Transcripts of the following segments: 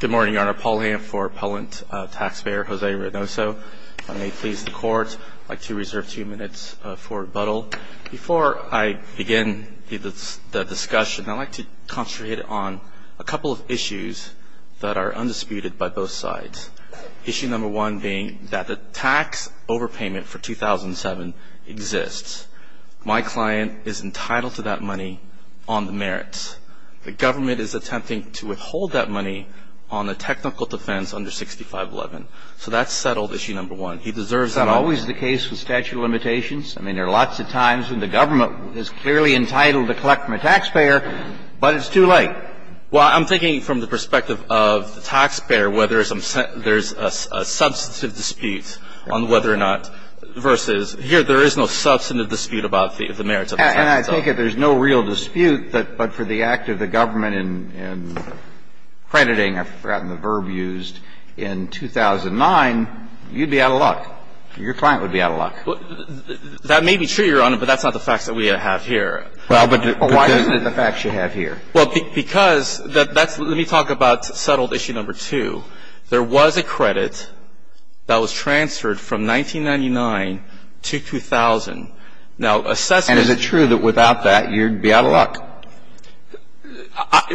Good morning, Your Honor. Paul Hamp for Appellant Taxpayer Jose Reynoso. If I may please the Court, I'd like to reserve two minutes for rebuttal. Before I begin the discussion, I'd like to concentrate on a couple of issues that are undisputed by both sides. Issue number one being that the tax overpayment for 2007 exists. My client is entitled to that money on the merits. The government is attempting to withhold that money on a technical defense under 6511. So that's settled issue number one. He deserves it. It's not always the case with statute of limitations. I mean, there are lots of times when the government is clearly entitled to collect from a taxpayer, but it's too late. Well, I'm thinking from the perspective of the taxpayer, whether there's a substantive dispute on whether or not versus there's no real dispute, but for the act of the government in crediting, I've forgotten the verb used, in 2009, you'd be out of luck. Your client would be out of luck. That may be true, Your Honor, but that's not the facts that we have here. Well, but why isn't it the facts you have here? Well, because that's the one. Let me talk about settled issue number two. There was a credit that was transferred from 1999 to 2000. Now, assessment And is it true that without that, you'd be out of luck?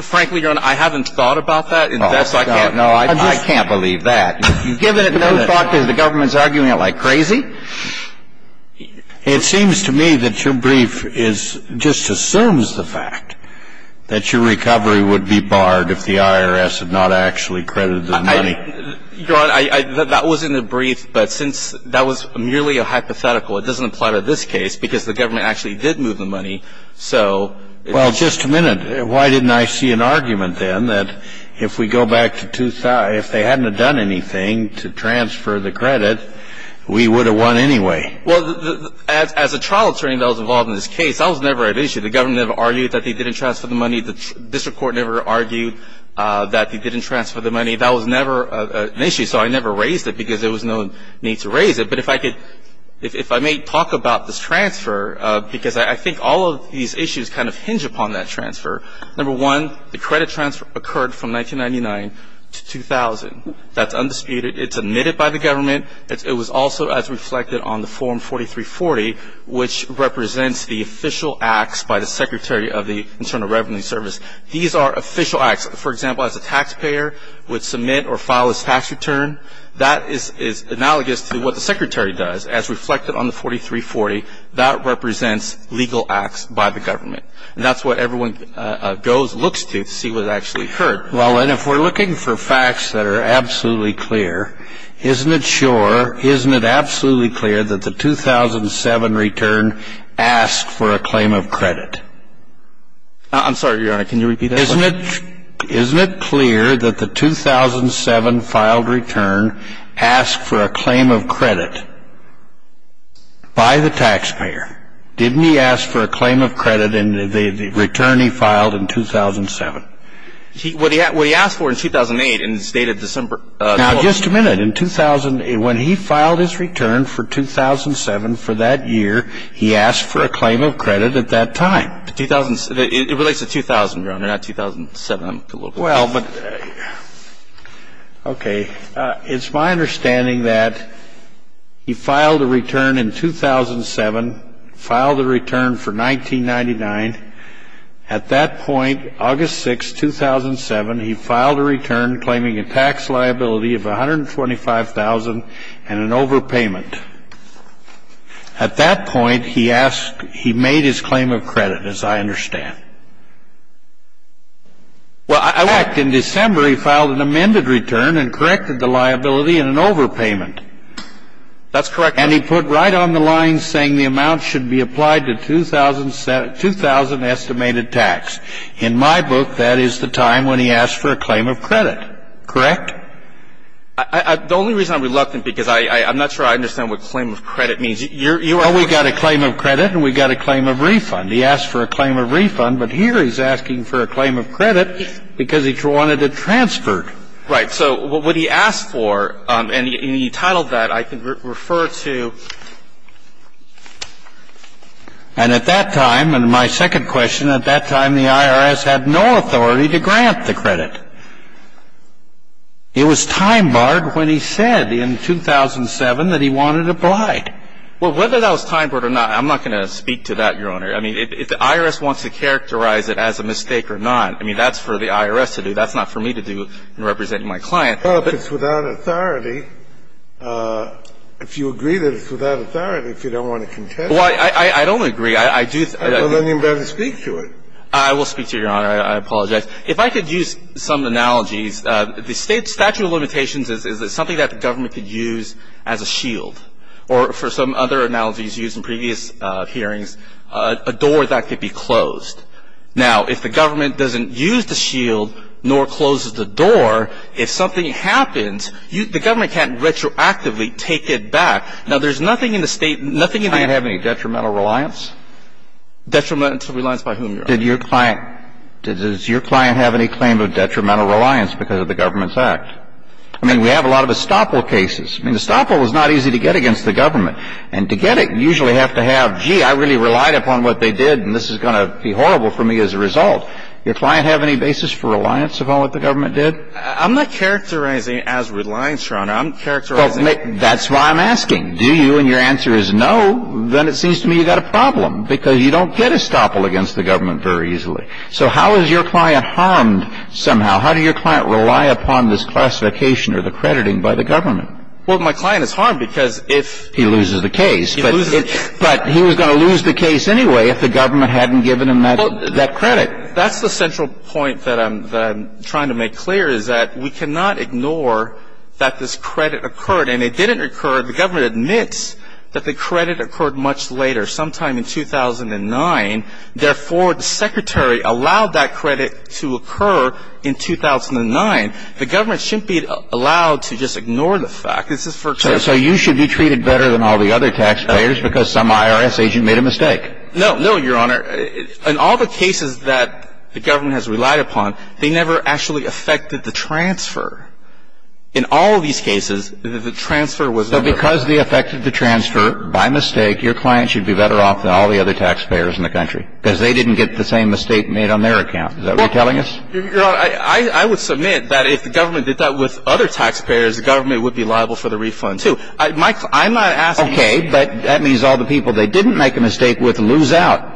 Frankly, Your Honor, I haven't thought about that. No, I can't believe that. You've given it no thought because the government is arguing it like crazy? It seems to me that your brief just assumes the fact that your recovery would be barred if the IRS had not actually credited the money. Your Honor, that was in the brief, but since that was merely a hypothetical, it doesn't apply to this case because the government actually did move the money, so Well, just a minute. Why didn't I see an argument then that if we go back to 2000, if they hadn't have done anything to transfer the credit, we would have won anyway? Well, as a trial attorney that was involved in this case, that was never an issue. The government never argued that they didn't transfer the money. The district court never argued that they didn't transfer the money. That was never an issue, so I never raised it because there was no need to raise it. But if I may talk about this transfer because I think all of these issues kind of hinge upon that transfer. Number one, the credit transfer occurred from 1999 to 2000. That's undisputed. It's admitted by the government. It was also as reflected on the Form 4340, which represents the official acts by the Secretary of the Internal Revenue Service. These are official acts. For example, as a taxpayer would submit or file his tax return. That is analogous to what the Secretary does as reflected on the 4340. That represents legal acts by the government. And that's what everyone goes, looks to, to see what actually occurred. Well, and if we're looking for facts that are absolutely clear, isn't it sure, isn't it absolutely clear that the 2007 return asked for a claim of credit? I'm sorry, Your Honor. Can you repeat that? Isn't it clear that the 2007 filed return asked for a claim of credit by the taxpayer? Didn't he ask for a claim of credit in the return he filed in 2007? What he asked for in 2008 in his date of December 12th. Now, just a minute. In 2000, when he filed his return for 2007 for that year, he asked for a claim of credit at that time. It relates to 2000, Your Honor, not 2007. Well, but, okay. It's my understanding that he filed a return in 2007, filed a return for 1999. At that point, August 6, 2007, he filed a return claiming a tax liability of $125,000 and an overpayment. At that point, he asked he made his claim of credit, as I understand. Well, in fact, in December, he filed an amended return and corrected the liability and an overpayment. That's correct, Your Honor. And he put right on the line saying the amount should be applied to 2000 estimated tax. In my book, that is the time when he asked for a claim of credit. Correct? The only reason I'm reluctant, because I'm not sure I understand what claim of credit means. You're going to put it. Well, we've got a claim of credit and we've got a claim of refund. He asked for a claim of refund, but here he's asking for a claim of credit because he wanted it transferred. Right. So what he asked for, and he titled that, I can refer to. And at that time, and my second question, at that time, the IRS had no authority to grant the credit. It was time-barred when he said in 2007 that he wanted it applied. Well, whether that was time-barred or not, I'm not going to speak to that, Your Honor. I mean, if the IRS wants to characterize it as a mistake or not, I mean, that's for the IRS to do. That's not for me to do in representing my client. Well, if it's without authority, if you agree that it's without authority, if you don't want to contest it. Well, I don't agree. I do. Then you'd better speak to it. I will speak to it, Your Honor. I apologize. If I could use some analogies, the statute of limitations is something that the government could use as a shield, or for some other analogies used in previous hearings, a door that could be closed. Now, if the government doesn't use the shield nor closes the door, if something happens, the government can't retroactively take it back. Now, there's nothing in the state – nothing in the – Did the client have any detrimental reliance? Detrimental reliance by whom, Your Honor? Did your client – does your client have any claim of detrimental reliance because of the government's act? I mean, we have a lot of estoppel cases. I mean, estoppel is not easy to get against the government, and to get it, you usually have to have, gee, I really relied upon what they did, and this is going to be horrible for me as a result. Your client have any basis for reliance upon what the government did? I'm not characterizing it as reliance, Your Honor. I'm characterizing it – Well, that's why I'm asking. Do you? And your answer is no. Then it seems to me you've got a problem because you don't get estoppel against the government very easily. So how is your client harmed somehow? How did your client rely upon this classification or the crediting by the government? Well, my client is harmed because if – He loses the case. He loses – But he was going to lose the case anyway if the government hadn't given him that credit. That's the central point that I'm trying to make clear is that we cannot ignore that this credit occurred, and it didn't occur – the government admits that the credit occurred much later, sometime in 2009. Therefore, the Secretary allowed that credit to occur in 2009. The government shouldn't be allowed to just ignore the fact. This is for – So you should be treated better than all the other taxpayers because some IRS agent made a mistake. No, Your Honor. In all the cases that the government has relied upon, they never actually affected the transfer. In all of these cases, the transfer was – So because they affected the transfer by mistake, your client should be better off than all the other taxpayers in the country because they didn't get the same mistake made on their account. Is that what you're telling us? Your Honor, I would submit that if the government did that with other taxpayers, the government would be liable for the refund, too. Mike, I'm not asking you – Okay, but that means all the people they didn't make a mistake with lose out.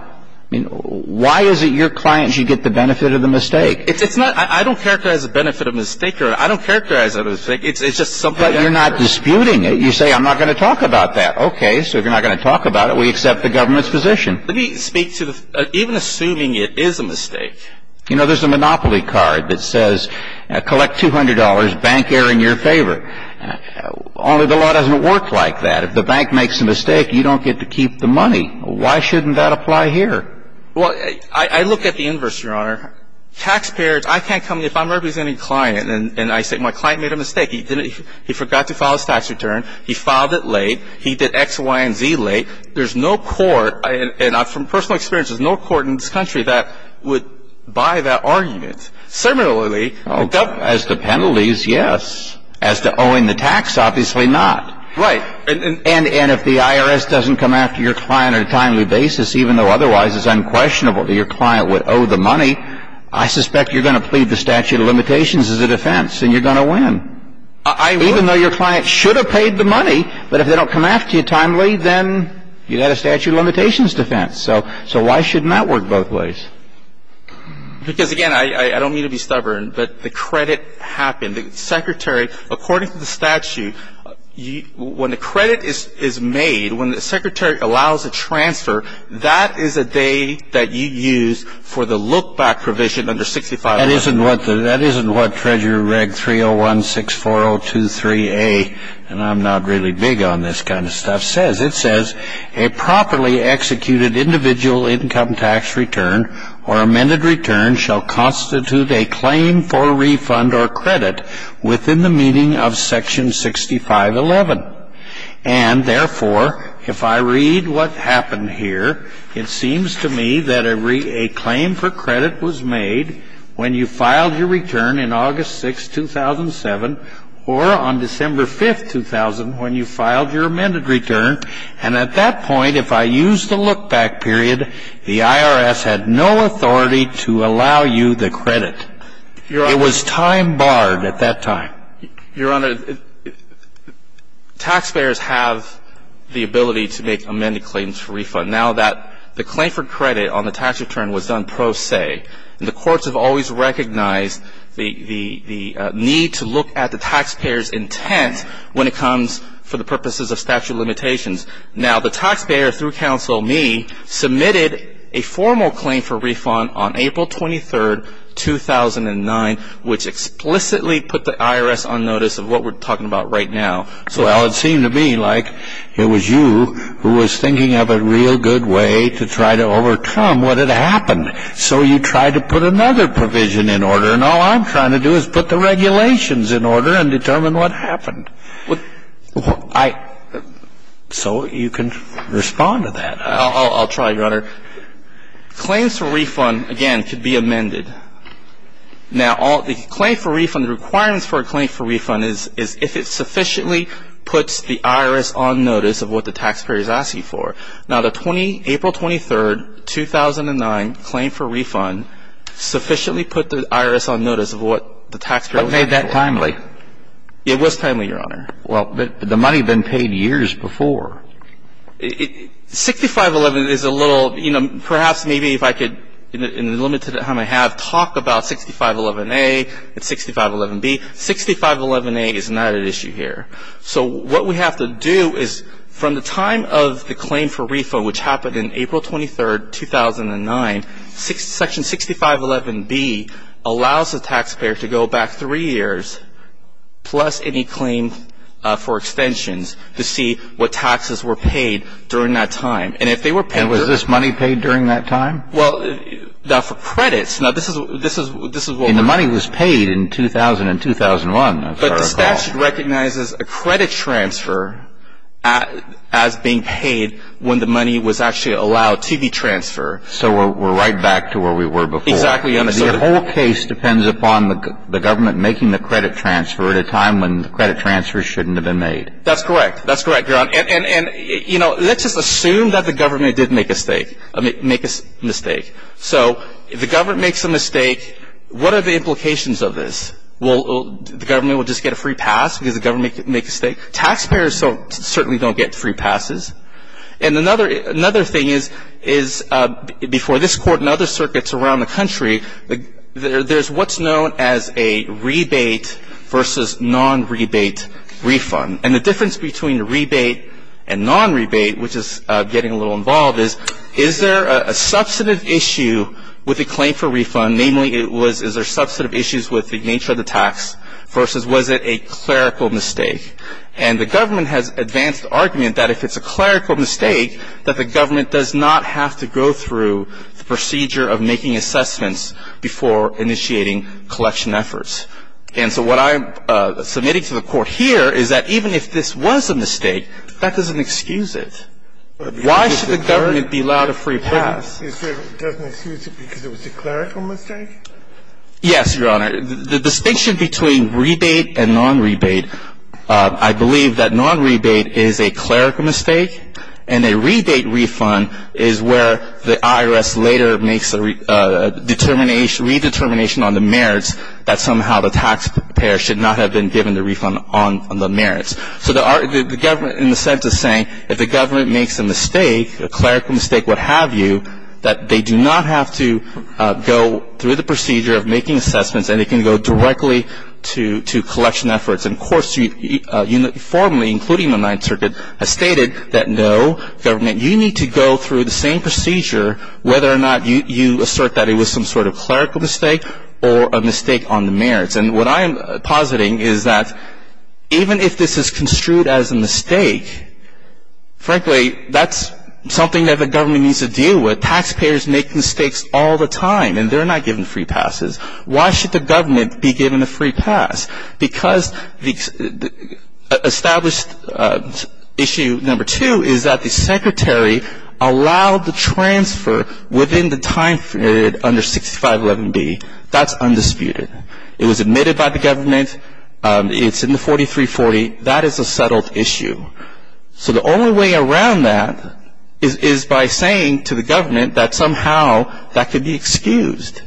I mean, why is it your client should get the benefit of the mistake? It's not – I don't characterize the benefit of a mistake, Your Honor. I don't characterize it as a mistake. It's just something – But you're not disputing it. You say, I'm not going to talk about that. Okay, so if you're not going to talk about it, we accept the government's position. Let me speak to the – even assuming it is a mistake. You know, there's a monopoly card that says, collect $200, bank error in your favor. Only the law doesn't work like that. If the bank makes a mistake, you don't get to keep the money. Why shouldn't that apply here? Well, I look at the inverse, Your Honor. Taxpayers – I can't come – if I'm representing a client and I say, my client made a mistake. He forgot to file his tax return. He filed it late. He did X, Y, and Z late. There's no court – and from personal experience, there's no court in this country that would buy that argument. Similarly, the government – As to penalties, yes. As to owing the tax, obviously not. Right. And if the IRS doesn't come after your client on a timely basis, even though otherwise it's unquestionable that your client would owe the money, I suspect you're going to plead the statute of limitations as a defense, and you're going to win. I would. Even though your client should have paid the money. But if they don't come after you timely, then you've got a statute of limitations defense. So why shouldn't that work both ways? Because, again, I don't mean to be stubborn, but the credit happened. The secretary – according to the statute, when the credit is made, when the secretary allows a transfer, that is a day that you use for the look-back provision under 6511. That isn't what Treasury Reg 30164023A – and I'm not really big on this kind of stuff – says. It says, A properly executed individual income tax return or amended return shall constitute a claim for refund or credit within the meaning of section 6511. And, therefore, if I read what happened here, it seems to me that a claim for credit was made when you filed your return in August 6, 2007, or on December 5, 2000, when you filed your amended return. And at that point, if I use the look-back period, the IRS had no authority to allow you the credit. It was time barred at that time. Your Honor, taxpayers have the ability to make amended claims for refund. Now that the claim for credit on the tax return was done pro se, the courts have always recognized the need to look at the taxpayer's intent when it comes for the purposes of statute of limitations. Now, the taxpayer, through counsel me, submitted a formal claim for refund on April 23, 2009, which explicitly put the IRS on notice of what we're talking about right now. Well, it seemed to me like it was you who was thinking of a real good way to try to overcome what had happened. So you tried to put another provision in order, and all I'm trying to do is put the regulations in order and determine what happened. So you can respond to that. I'll try, Your Honor. Claims for refund, again, could be amended. Now, the claim for refund, the requirements for a claim for refund is if it sufficiently puts the IRS on notice of what the taxpayer is asking for. Now, the April 23, 2009 claim for refund sufficiently put the IRS on notice of what the taxpayer was asking for. But made that timely. It was timely, Your Honor. Well, but the money had been paid years before. 6511 is a little, you know, perhaps maybe if I could, in the limited time I have, talk about 6511A and 6511B. 6511A is not at issue here. So what we have to do is from the time of the claim for refund, which happened on April 23, 2009, section 6511B allows the taxpayer to go back three years, plus any claim for extensions, to see what taxes were paid during that time. And if they were paid during that time. And was this money paid during that time? Well, now for credits, now this is what. And the money was paid in 2000 and 2001, if I recall. But the statute recognizes a credit transfer as being paid when the money was actually allowed to be transferred. So we're right back to where we were before. Exactly. The whole case depends upon the government making the credit transfer at a time when the credit transfer shouldn't have been made. That's correct. That's correct, Your Honor. And, you know, let's just assume that the government did make a mistake. So if the government makes a mistake, what are the implications of this? Will the government just get a free pass because the government made a mistake? Taxpayers certainly don't get free passes. And another thing is before this Court and other circuits around the country, there's what's known as a rebate versus non-rebate refund. And the difference between a rebate and non-rebate, which is getting a little involved, is, is there a substantive issue with the claim for refund? Namely, is there substantive issues with the nature of the tax versus was it a clerical mistake? And the government has advanced argument that if it's a clerical mistake, that the government does not have to go through the procedure of making assessments before initiating collection efforts. And so what I'm submitting to the Court here is that even if this was a mistake, that doesn't excuse it. Why should the government be allowed a free pass? It doesn't excuse it because it was a clerical mistake? Yes, Your Honor. The distinction between rebate and non-rebate, I believe that non-rebate is a clerical mistake and a rebate refund is where the IRS later makes a redetermination on the merits that somehow the taxpayer should not have been given the refund on the merits. So the government in a sense is saying if the government makes a mistake, a clerical mistake, what have you, that they do not have to go through the procedure of making assessments and they can go directly to collection efforts. And courts formally, including the Ninth Circuit, have stated that no, government, you need to go through the same procedure whether or not you assert that it was some sort of clerical mistake or a mistake on the merits. And what I am positing is that even if this is construed as a mistake, frankly, that's something that the government needs to deal with. Taxpayers make mistakes all the time and they're not given free passes. Why should the government be given a free pass? Because established issue number two is that the secretary allowed the transfer within the time period under 6511B. That's undisputed. It was admitted by the government. It's in the 4340. That is a settled issue. So the only way around that is by saying to the government that somehow that could be excused.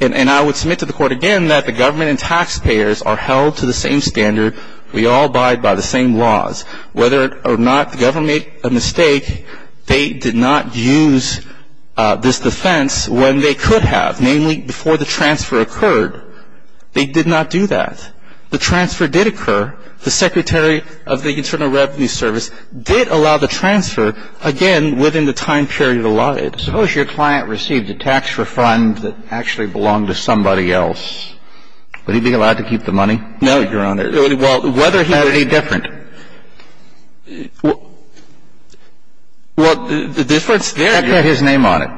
And I would submit to the court again that the government and taxpayers are held to the same standard. We all abide by the same laws. Whether or not the government made a mistake, they did not use this defense when they could have, namely before the transfer occurred. They did not do that. The transfer did occur. The secretary of the Internal Revenue Service did allow the transfer, again, within the time period allotted. Suppose your client received a tax refund that actually belonged to somebody else. Would he be allowed to keep the money? No, Your Honor. Well, whether he would. Is that any different? Well, the difference there is. The check has his name on it.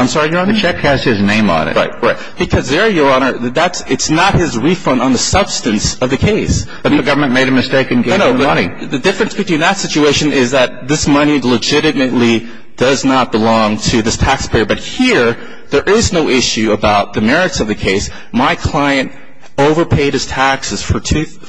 I'm sorry, Your Honor? The check has his name on it. Right. Because there, Your Honor, it's not his refund on the substance of the case. But the government made a mistake in getting the money. No, no. The difference between that situation is that this money legitimately does not belong to this taxpayer. But here, there is no issue about the merits of the case. My client overpaid his taxes for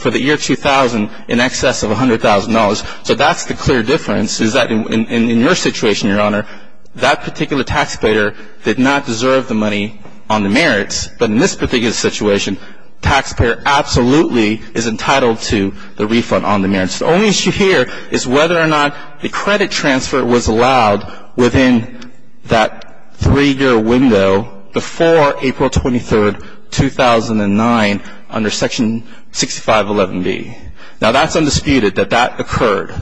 the year 2000 in excess of $100,000. So that's the clear difference is that in your situation, Your Honor, that particular taxpayer did not deserve the money on the merits. But in this particular situation, taxpayer absolutely is entitled to the refund on the merits. The only issue here is whether or not the credit transfer was allowed within that three-year window before April 23, 2009, under Section 6511B. Now, that's undisputed that that occurred.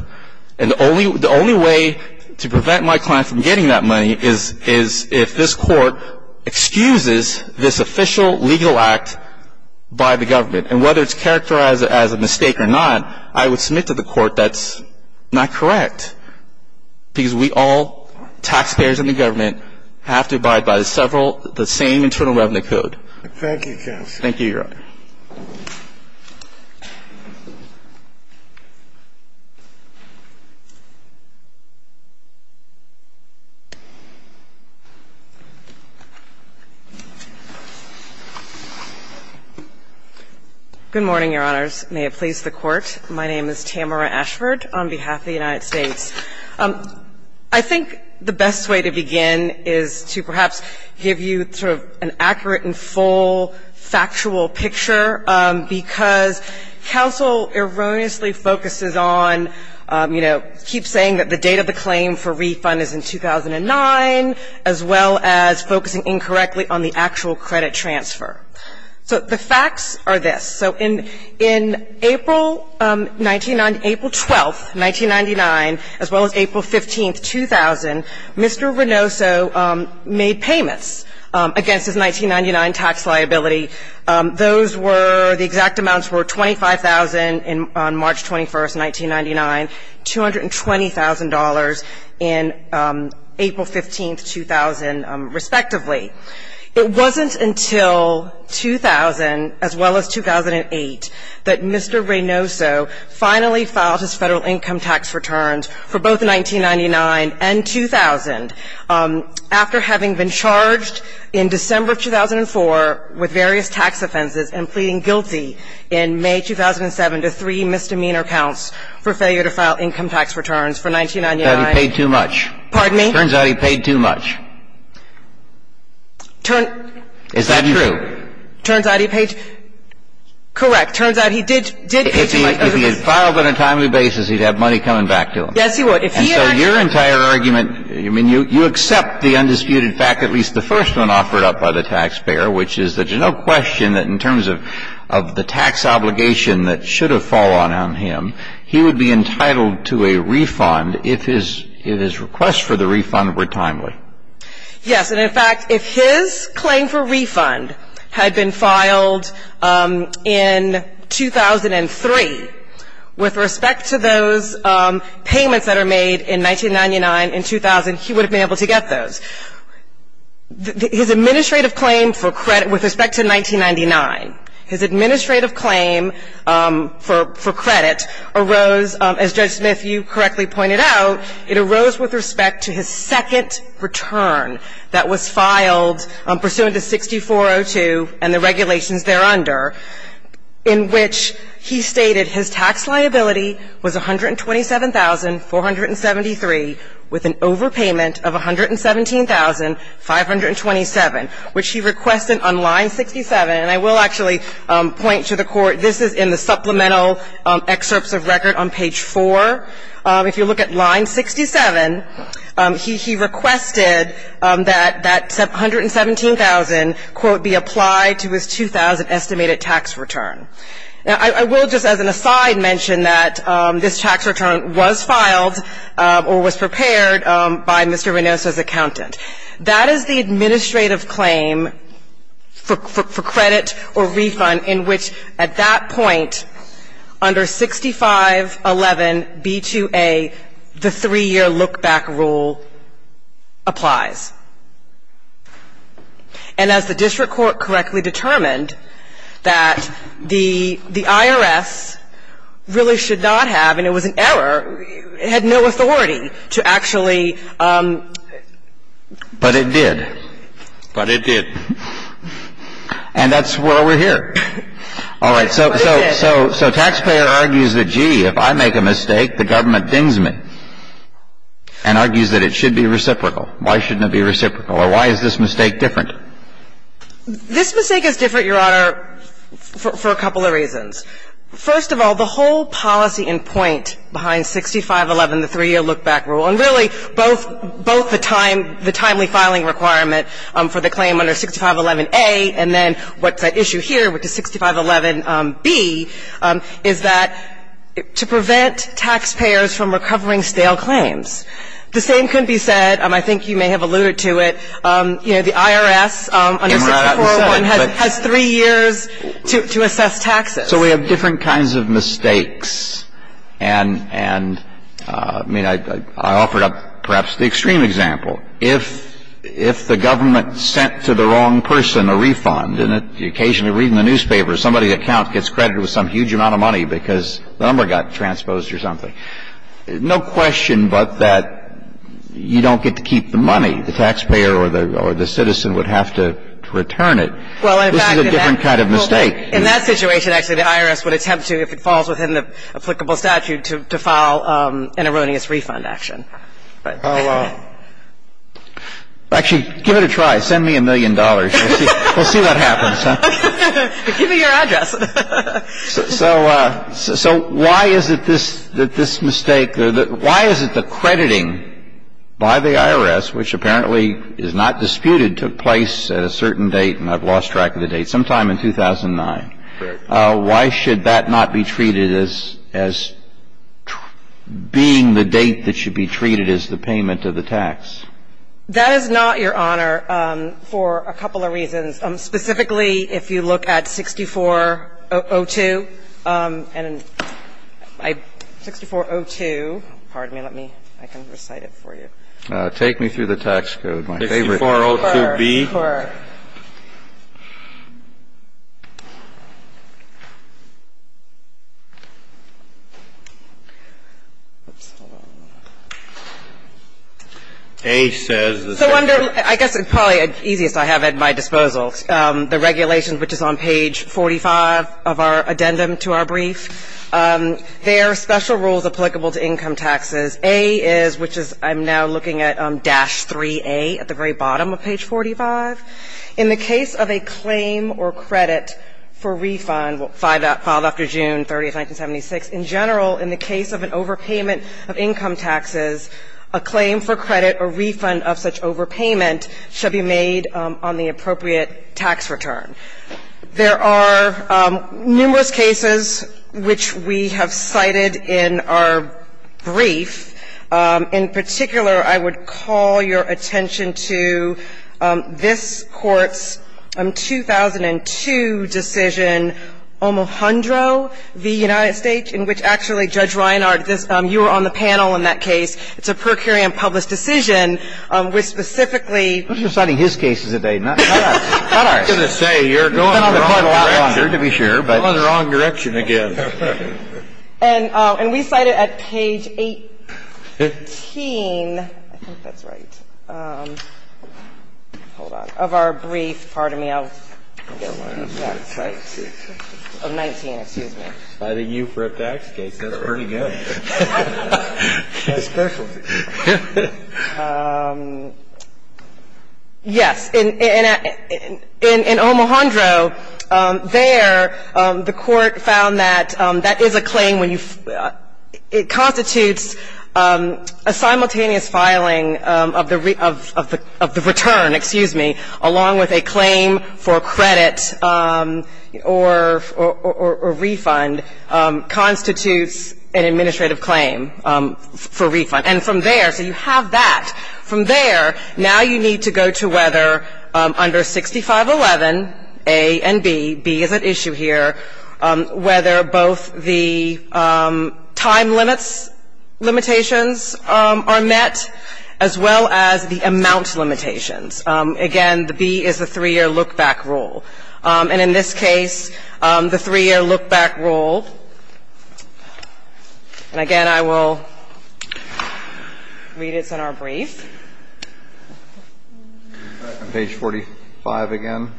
And the only way to prevent my client from getting that money is if this Court excuses this official legal act by the government. And whether it's characterized as a mistake or not, I would submit to the Court that's not correct. Because we all, taxpayers and the government, have to abide by the same Internal Revenue Code. Thank you, counsel. Thank you, Your Honor. Good morning, Your Honors. May it please the Court. My name is Tamara Ashford on behalf of the United States. I think the best way to begin is to perhaps give you sort of an accurate and full factual picture. Because counsel erroneously focuses on, you know, keep saying that the date of the claim for refund is in 2009, as well as focusing incorrectly on the actual credit transfer. So the facts are this. So in April 19 — April 12, 1999, as well as April 15, 2000, Mr. Renoso made payments against his 1999 tax liability. Those were — the exact amounts were $25,000 on March 21, 1999, $220,000 in April 15, 2000, respectively. It wasn't until 2000, as well as 2008, that Mr. Renoso finally filed his Federal income tax returns for both 1999 and 2000. After having been charged in December of 2004 with various tax offenses and pleading guilty in May 2007 to three misdemeanor counts for failure to file income tax returns for 1999 — He paid too much. Pardon me? Turns out he paid too much. Is that true? Turns out he paid — correct. Turns out he did pay too much. If he had filed on a timely basis, he'd have money coming back to him. Yes, he would. And so your entire argument — I mean, you accept the undisputed fact, at least the first one offered up by the taxpayer, which is that there's no question that in terms of the tax obligation that should have fallen on him, he would be entitled to a refund if his — if his requests for the refund were timely. Yes. And, in fact, if his claim for refund had been filed in 2003, with respect to those payments that are made in 1999 and 2000, he would have been able to get those. His administrative claim for credit — with respect to 1999, his administrative claim for credit arose, as Judge Smith, you correctly pointed out, it arose with respect to his second return that was filed pursuant to 6402 and the regulations thereunder, in which he stated his tax liability was $127,473, with an overpayment of $117,527, which he requested on line 67. And I will actually point to the court — this is in the supplemental excerpts of record on page 4. If you look at line 67, he requested that that $117,000, quote, be applied to his 2000 estimated tax return. Now, I will just, as an aside, mention that this tax return was filed or was prepared by Mr. Reynosa's accountant. That is the administrative claim for credit or refund in which, at that point, under 6511b2a, the three-year look-back rule applies. And as the district court correctly determined, that the IRS really should not have had no authority to actually do that. But it did. But it did. And that's why we're here. All right. So taxpayer argues that, gee, if I make a mistake, the government dings me and argues that it should be reciprocal. Why shouldn't it be reciprocal? Or why is this mistake different? This mistake is different, Your Honor, for a couple of reasons. First of all, the whole policy and point behind 6511, the three-year look-back rule, and really both the timely filing requirement for the claim under 6511a, and then what's at issue here, which is 6511b, is that to prevent taxpayers from recovering stale claims. The same could be said, I think you may have alluded to it, you know, the IRS under 6401 has three years to assess taxes. So we have different kinds of mistakes. And, I mean, I offered up perhaps the extreme example. If the government sent to the wrong person a refund, and occasionally reading the newspaper, somebody's account gets credited with some huge amount of money because the number got transposed or something, no question but that you don't get to keep the money. The taxpayer or the citizen would have to return it. This is a different kind of mistake. In that situation, actually, the IRS would attempt to, if it falls within the applicable statute, to file an erroneous refund action. Actually, give it a try. Send me a million dollars. We'll see what happens. Give me your address. So why is it this mistake? Why is it the crediting by the IRS, which apparently is not disputed, took place at a certain date, and I've lost track of the date, sometime in 2009. Correct. Why should that not be treated as being the date that should be treated as the payment of the tax? That is not, Your Honor, for a couple of reasons. Specifically, if you look at 6402, and 6402, pardon me, let me, I can recite it for you. Take me through the tax code, my favorite. 6402B. I guess it's probably the easiest I have at my disposal. The regulations, which is on page 45 of our addendum to our brief, there are special rules applicable to income taxes. A is, which is, I'm now looking at dash 3A at the very bottom of page 45. In the case of a claim or credit for refund, filed after June 30, 1976, in general, in the case of an overpayment of income taxes, a claim for credit or refund of such overpayment should be made on the appropriate tax return. There are numerous cases which we have cited in our brief. In particular, I would call your attention to this Court's 2002 decision, Omohundro v. United States, in which actually, Judge Reinhardt, you were on the panel in that case. It's a per curiam published decision, which specifically ---- Go in the wrong direction again. And we cite it at page 18. I think that's right. Hold on. Of our brief. Pardon me. Of 19, excuse me. Citing you for a tax case. That's pretty good. My specialty. Yes. In Omohundro, there, the Court found that that is a claim when you ---- it constitutes a simultaneous filing of the return, excuse me, along with a claim for credit or refund constitutes an administrative claim for refund. And from there, so you have that. From there, now you need to go to whether under 6511A and B, B is at issue here, whether both the time limits limitations are met, as well as the amount limitations. Again, the B is the three-year look-back rule. And in this case, the three-year look-back rule. And again, I will read it. It's in our brief. Page 45 again.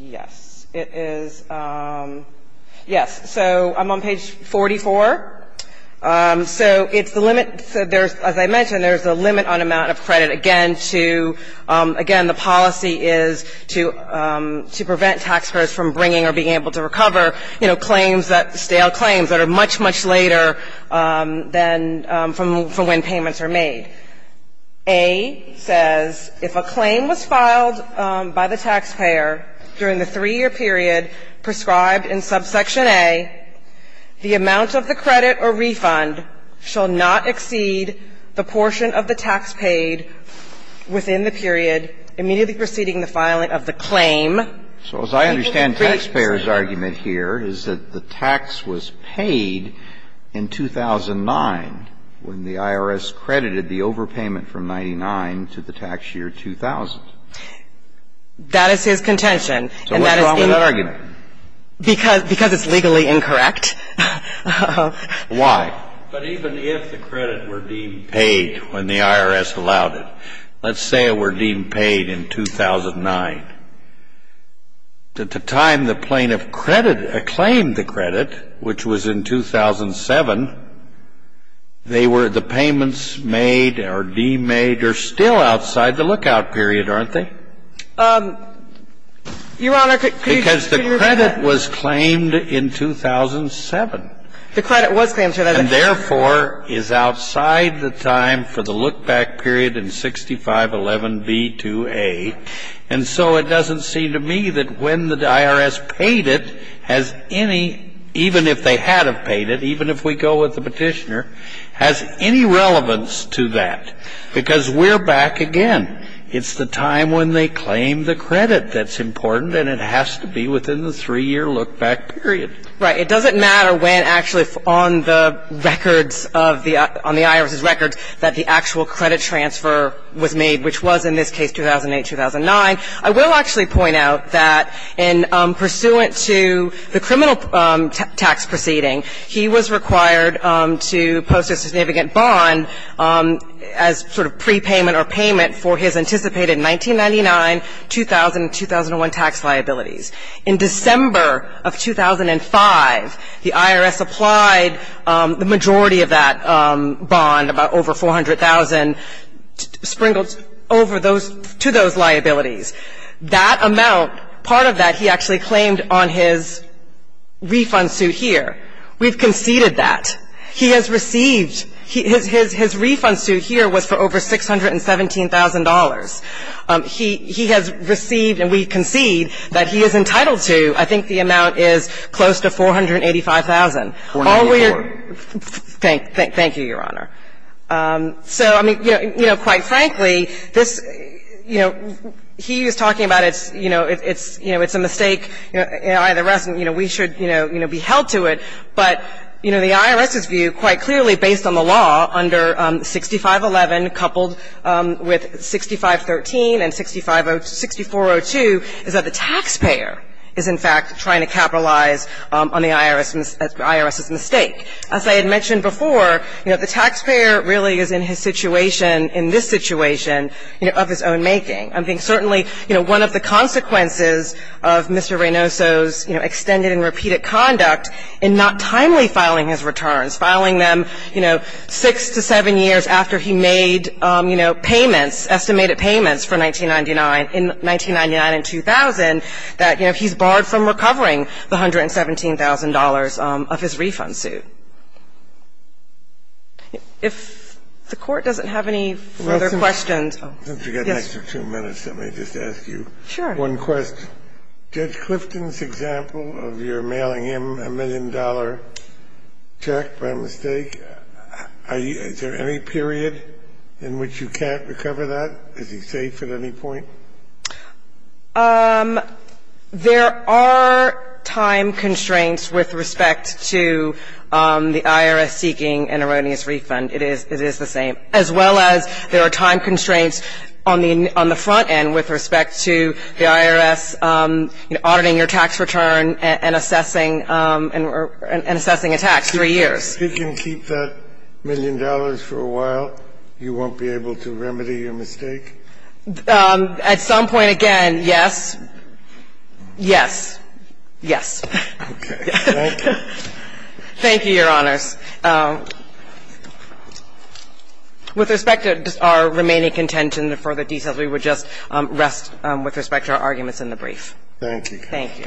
Yes. It is. Yes. So I'm on page 44. So it's the limit. So there's, as I mentioned, there's a limit on amount of credit. Again, to ---- again, the policy is to prevent taxpayers from bringing or being able to recover, you know, claims that ---- stale claims that are much, much later than from when payments are made. A says, If a claim was filed by the taxpayer during the three-year period prescribed in subsection A, the amount of the credit or refund shall not exceed the portion of the tax paid within the period immediately preceding the filing of the claim. So as I understand taxpayer's argument here is that the tax was paid in 2009 when the IRS credited the overpayment from 99 to the tax year 2000. That is his contention. So what's wrong with that argument? Because it's legally incorrect. Why? But even if the credit were deemed paid when the IRS allowed it, let's say it were deemed paid in 2009, at the time the plaintiff credited or claimed the credit, which was in 2007, they were the payments made or deemed made are still outside the lookout period, aren't they? Your Honor, could you repeat that? Because the credit was claimed in 2007. The credit was claimed in 2007. And therefore is outside the time for the look-back period in 6511b2a. And so it doesn't seem to me that when the IRS paid it has any, even if they had have paid it, even if we go with the Petitioner, has any relevance to that. Because we're back again. It's the time when they claim the credit that's important, and it has to be within the three-year look-back period. Right. It doesn't matter when actually on the records of the IRS's records that the actual credit transfer was made, which was in this case 2008, 2009. I will actually point out that in pursuant to the criminal tax proceeding, he was required to post a significant bond as sort of prepayment or payment for his anticipated 1999, 2000, and 2001 tax liabilities. In December of 2005, the IRS applied the majority of that bond, about over 400,000, sprinkled over those to those liabilities. That amount, part of that he actually claimed on his refund suit here. We've conceded that. He has received his refund suit here was for over $617,000. He has received, and we concede that he is entitled to, I think the amount is close to $485,000. Thank you, Your Honor. So, I mean, you know, quite frankly, this, you know, he is talking about it's, you know, it's, you know, it's a mistake. We should, you know, be held to it. But, you know, the IRS's view quite clearly based on the law under 6511 coupled with 6513 and 6402 is that the taxpayer is, in fact, trying to capitalize on the IRS's mistake. As I had mentioned before, you know, the taxpayer really is in his situation, in this situation, you know, of his own making. I think certainly, you know, one of the consequences of Mr. Reynoso's, you know, extended and repeated conduct in not timely filing his returns, filing them, you know, is that he made, you know, payments, estimated payments for 1999. In 1999 and 2000, that, you know, he's barred from recovering the $117,000 of his refund suit. If the Court doesn't have any other questions. Since we've got an extra two minutes, let me just ask you one question. Sure. Judge Clifton's example of your mailing him a million-dollar check by mistake, is there any period in which you can't recover that? Is he safe at any point? There are time constraints with respect to the IRS seeking an erroneous refund. It is the same. As well as there are time constraints on the front end with respect to the IRS, you know, auditing your tax return and assessing a tax, three years. If you can keep that million dollars for a while, you won't be able to remedy your mistake? At some point, again, yes. Yes. Yes. Okay. Thank you. Thank you, Your Honors. With respect to our remaining contention and further details, we would just rest with respect to our arguments in the brief. Thank you. Thank you.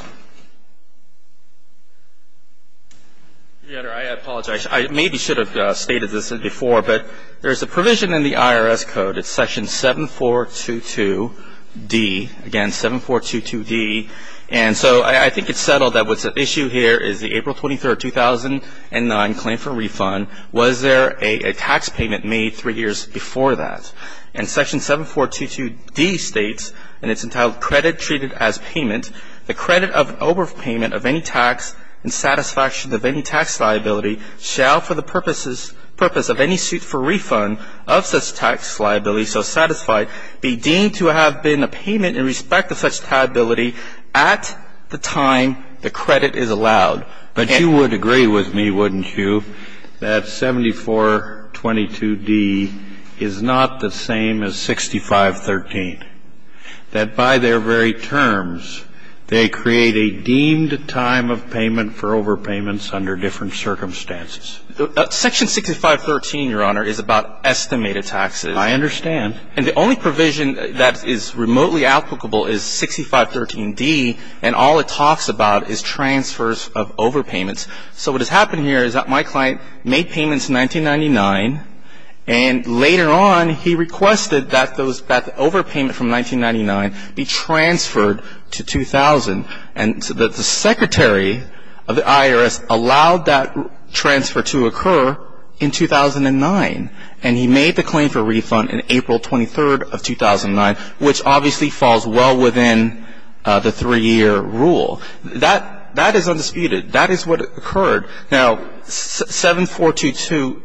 Your Honor, I apologize. I maybe should have stated this before, but there's a provision in the IRS Code, it's Section 7422D, again, 7422D. And so I think it's settled that what's at issue here is the April 23, 2009, claim for refund. Was there a tax payment made three years before that? And Section 7422D states, and it's entitled Credit Treated as Payment, the credit of overpayment of any tax in satisfaction of any tax liability shall for the purpose of any suit for refund of such tax liability so satisfied be deemed to have been a payment in respect of such liability at the time the credit is allowed. But you would agree with me, wouldn't you, that 7422D is not the same as 6513, that by their very terms they create a deemed time of payment for overpayments under different circumstances? Section 6513, Your Honor, is about estimated taxes. I understand. And the only provision that is remotely applicable is 6513D, and all it talks about is transfers of overpayments. So what has happened here is that my client made payments in 1999, and later on he requested that the overpayment from 1999 be transferred to 2000. And the Secretary of the IRS allowed that transfer to occur in 2009. And he made the claim for refund on April 23, 2009, which obviously falls well within the three-year rule. That is undisputed. That is what occurred. Now, 7422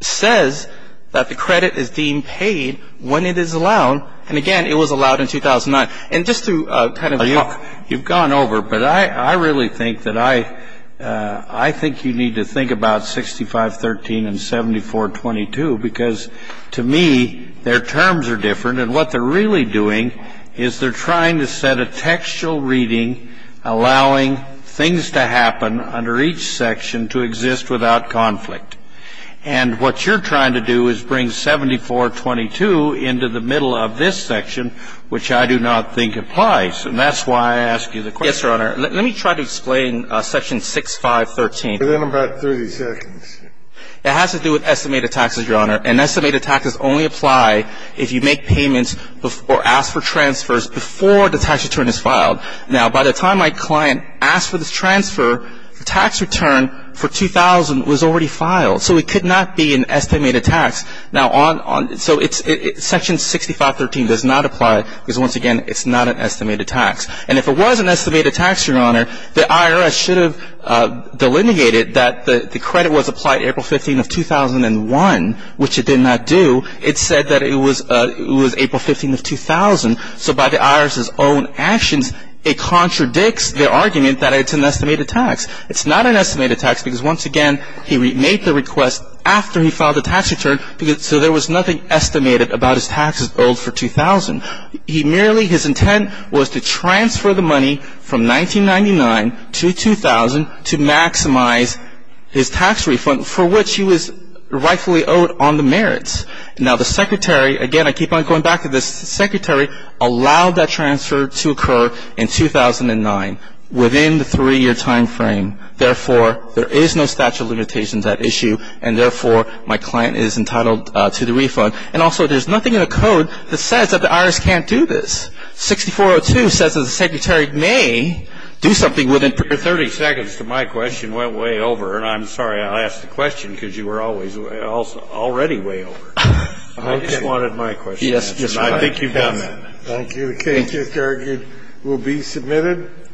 says that the credit is deemed paid when it is allowed. And, again, it was allowed in 2009. And just to kind of talk to you. You've gone over. But I really think that I think you need to think about 6513 and 7422, because to me their terms are different. And what they're really doing is they're trying to set a textual reading allowing things to happen under each section to exist without conflict. And what you're trying to do is bring 7422 into the middle of this section, which I do not think applies. And that's why I ask you the question. Yes, Your Honor. Let me try to explain section 6513. Within about 30 seconds. It has to do with estimated taxes, Your Honor. And estimated taxes only apply if you make payments or ask for transfers before the tax return is filed. Now, by the time my client asked for the transfer, the tax return for 2000 was already filed. So it could not be an estimated tax. Now, so section 6513 does not apply because, once again, it's not an estimated tax. And if it was an estimated tax, Your Honor, the IRS should have delineated that the credit was applied April 15th of 2001, which it did not do. It said that it was April 15th of 2000. So by the IRS's own actions, it contradicts the argument that it's an estimated tax. It's not an estimated tax because, once again, he made the request after he filed the tax return, so there was nothing estimated about his taxes owed for 2000. He merely, his intent was to transfer the money from 1999 to 2000 to maximize his tax refund for which he was rightfully owed on the merits. Now, the secretary, again, I keep on going back to this, the secretary allowed that transfer to occur in 2009 within the three-year time frame. Therefore, there is no statute of limitations at issue, and therefore, my client is entitled to the refund. And also, there's nothing in the code that says that the IRS can't do this. 6402 says that the secretary may do something within 30 seconds. All right. Thank you. And I'm sorry. My question went way over, and I'm sorry I asked the question because you were always already way over. I just wanted my question answered, and I think you've done that. Thank you. Thank you. It will be submitted.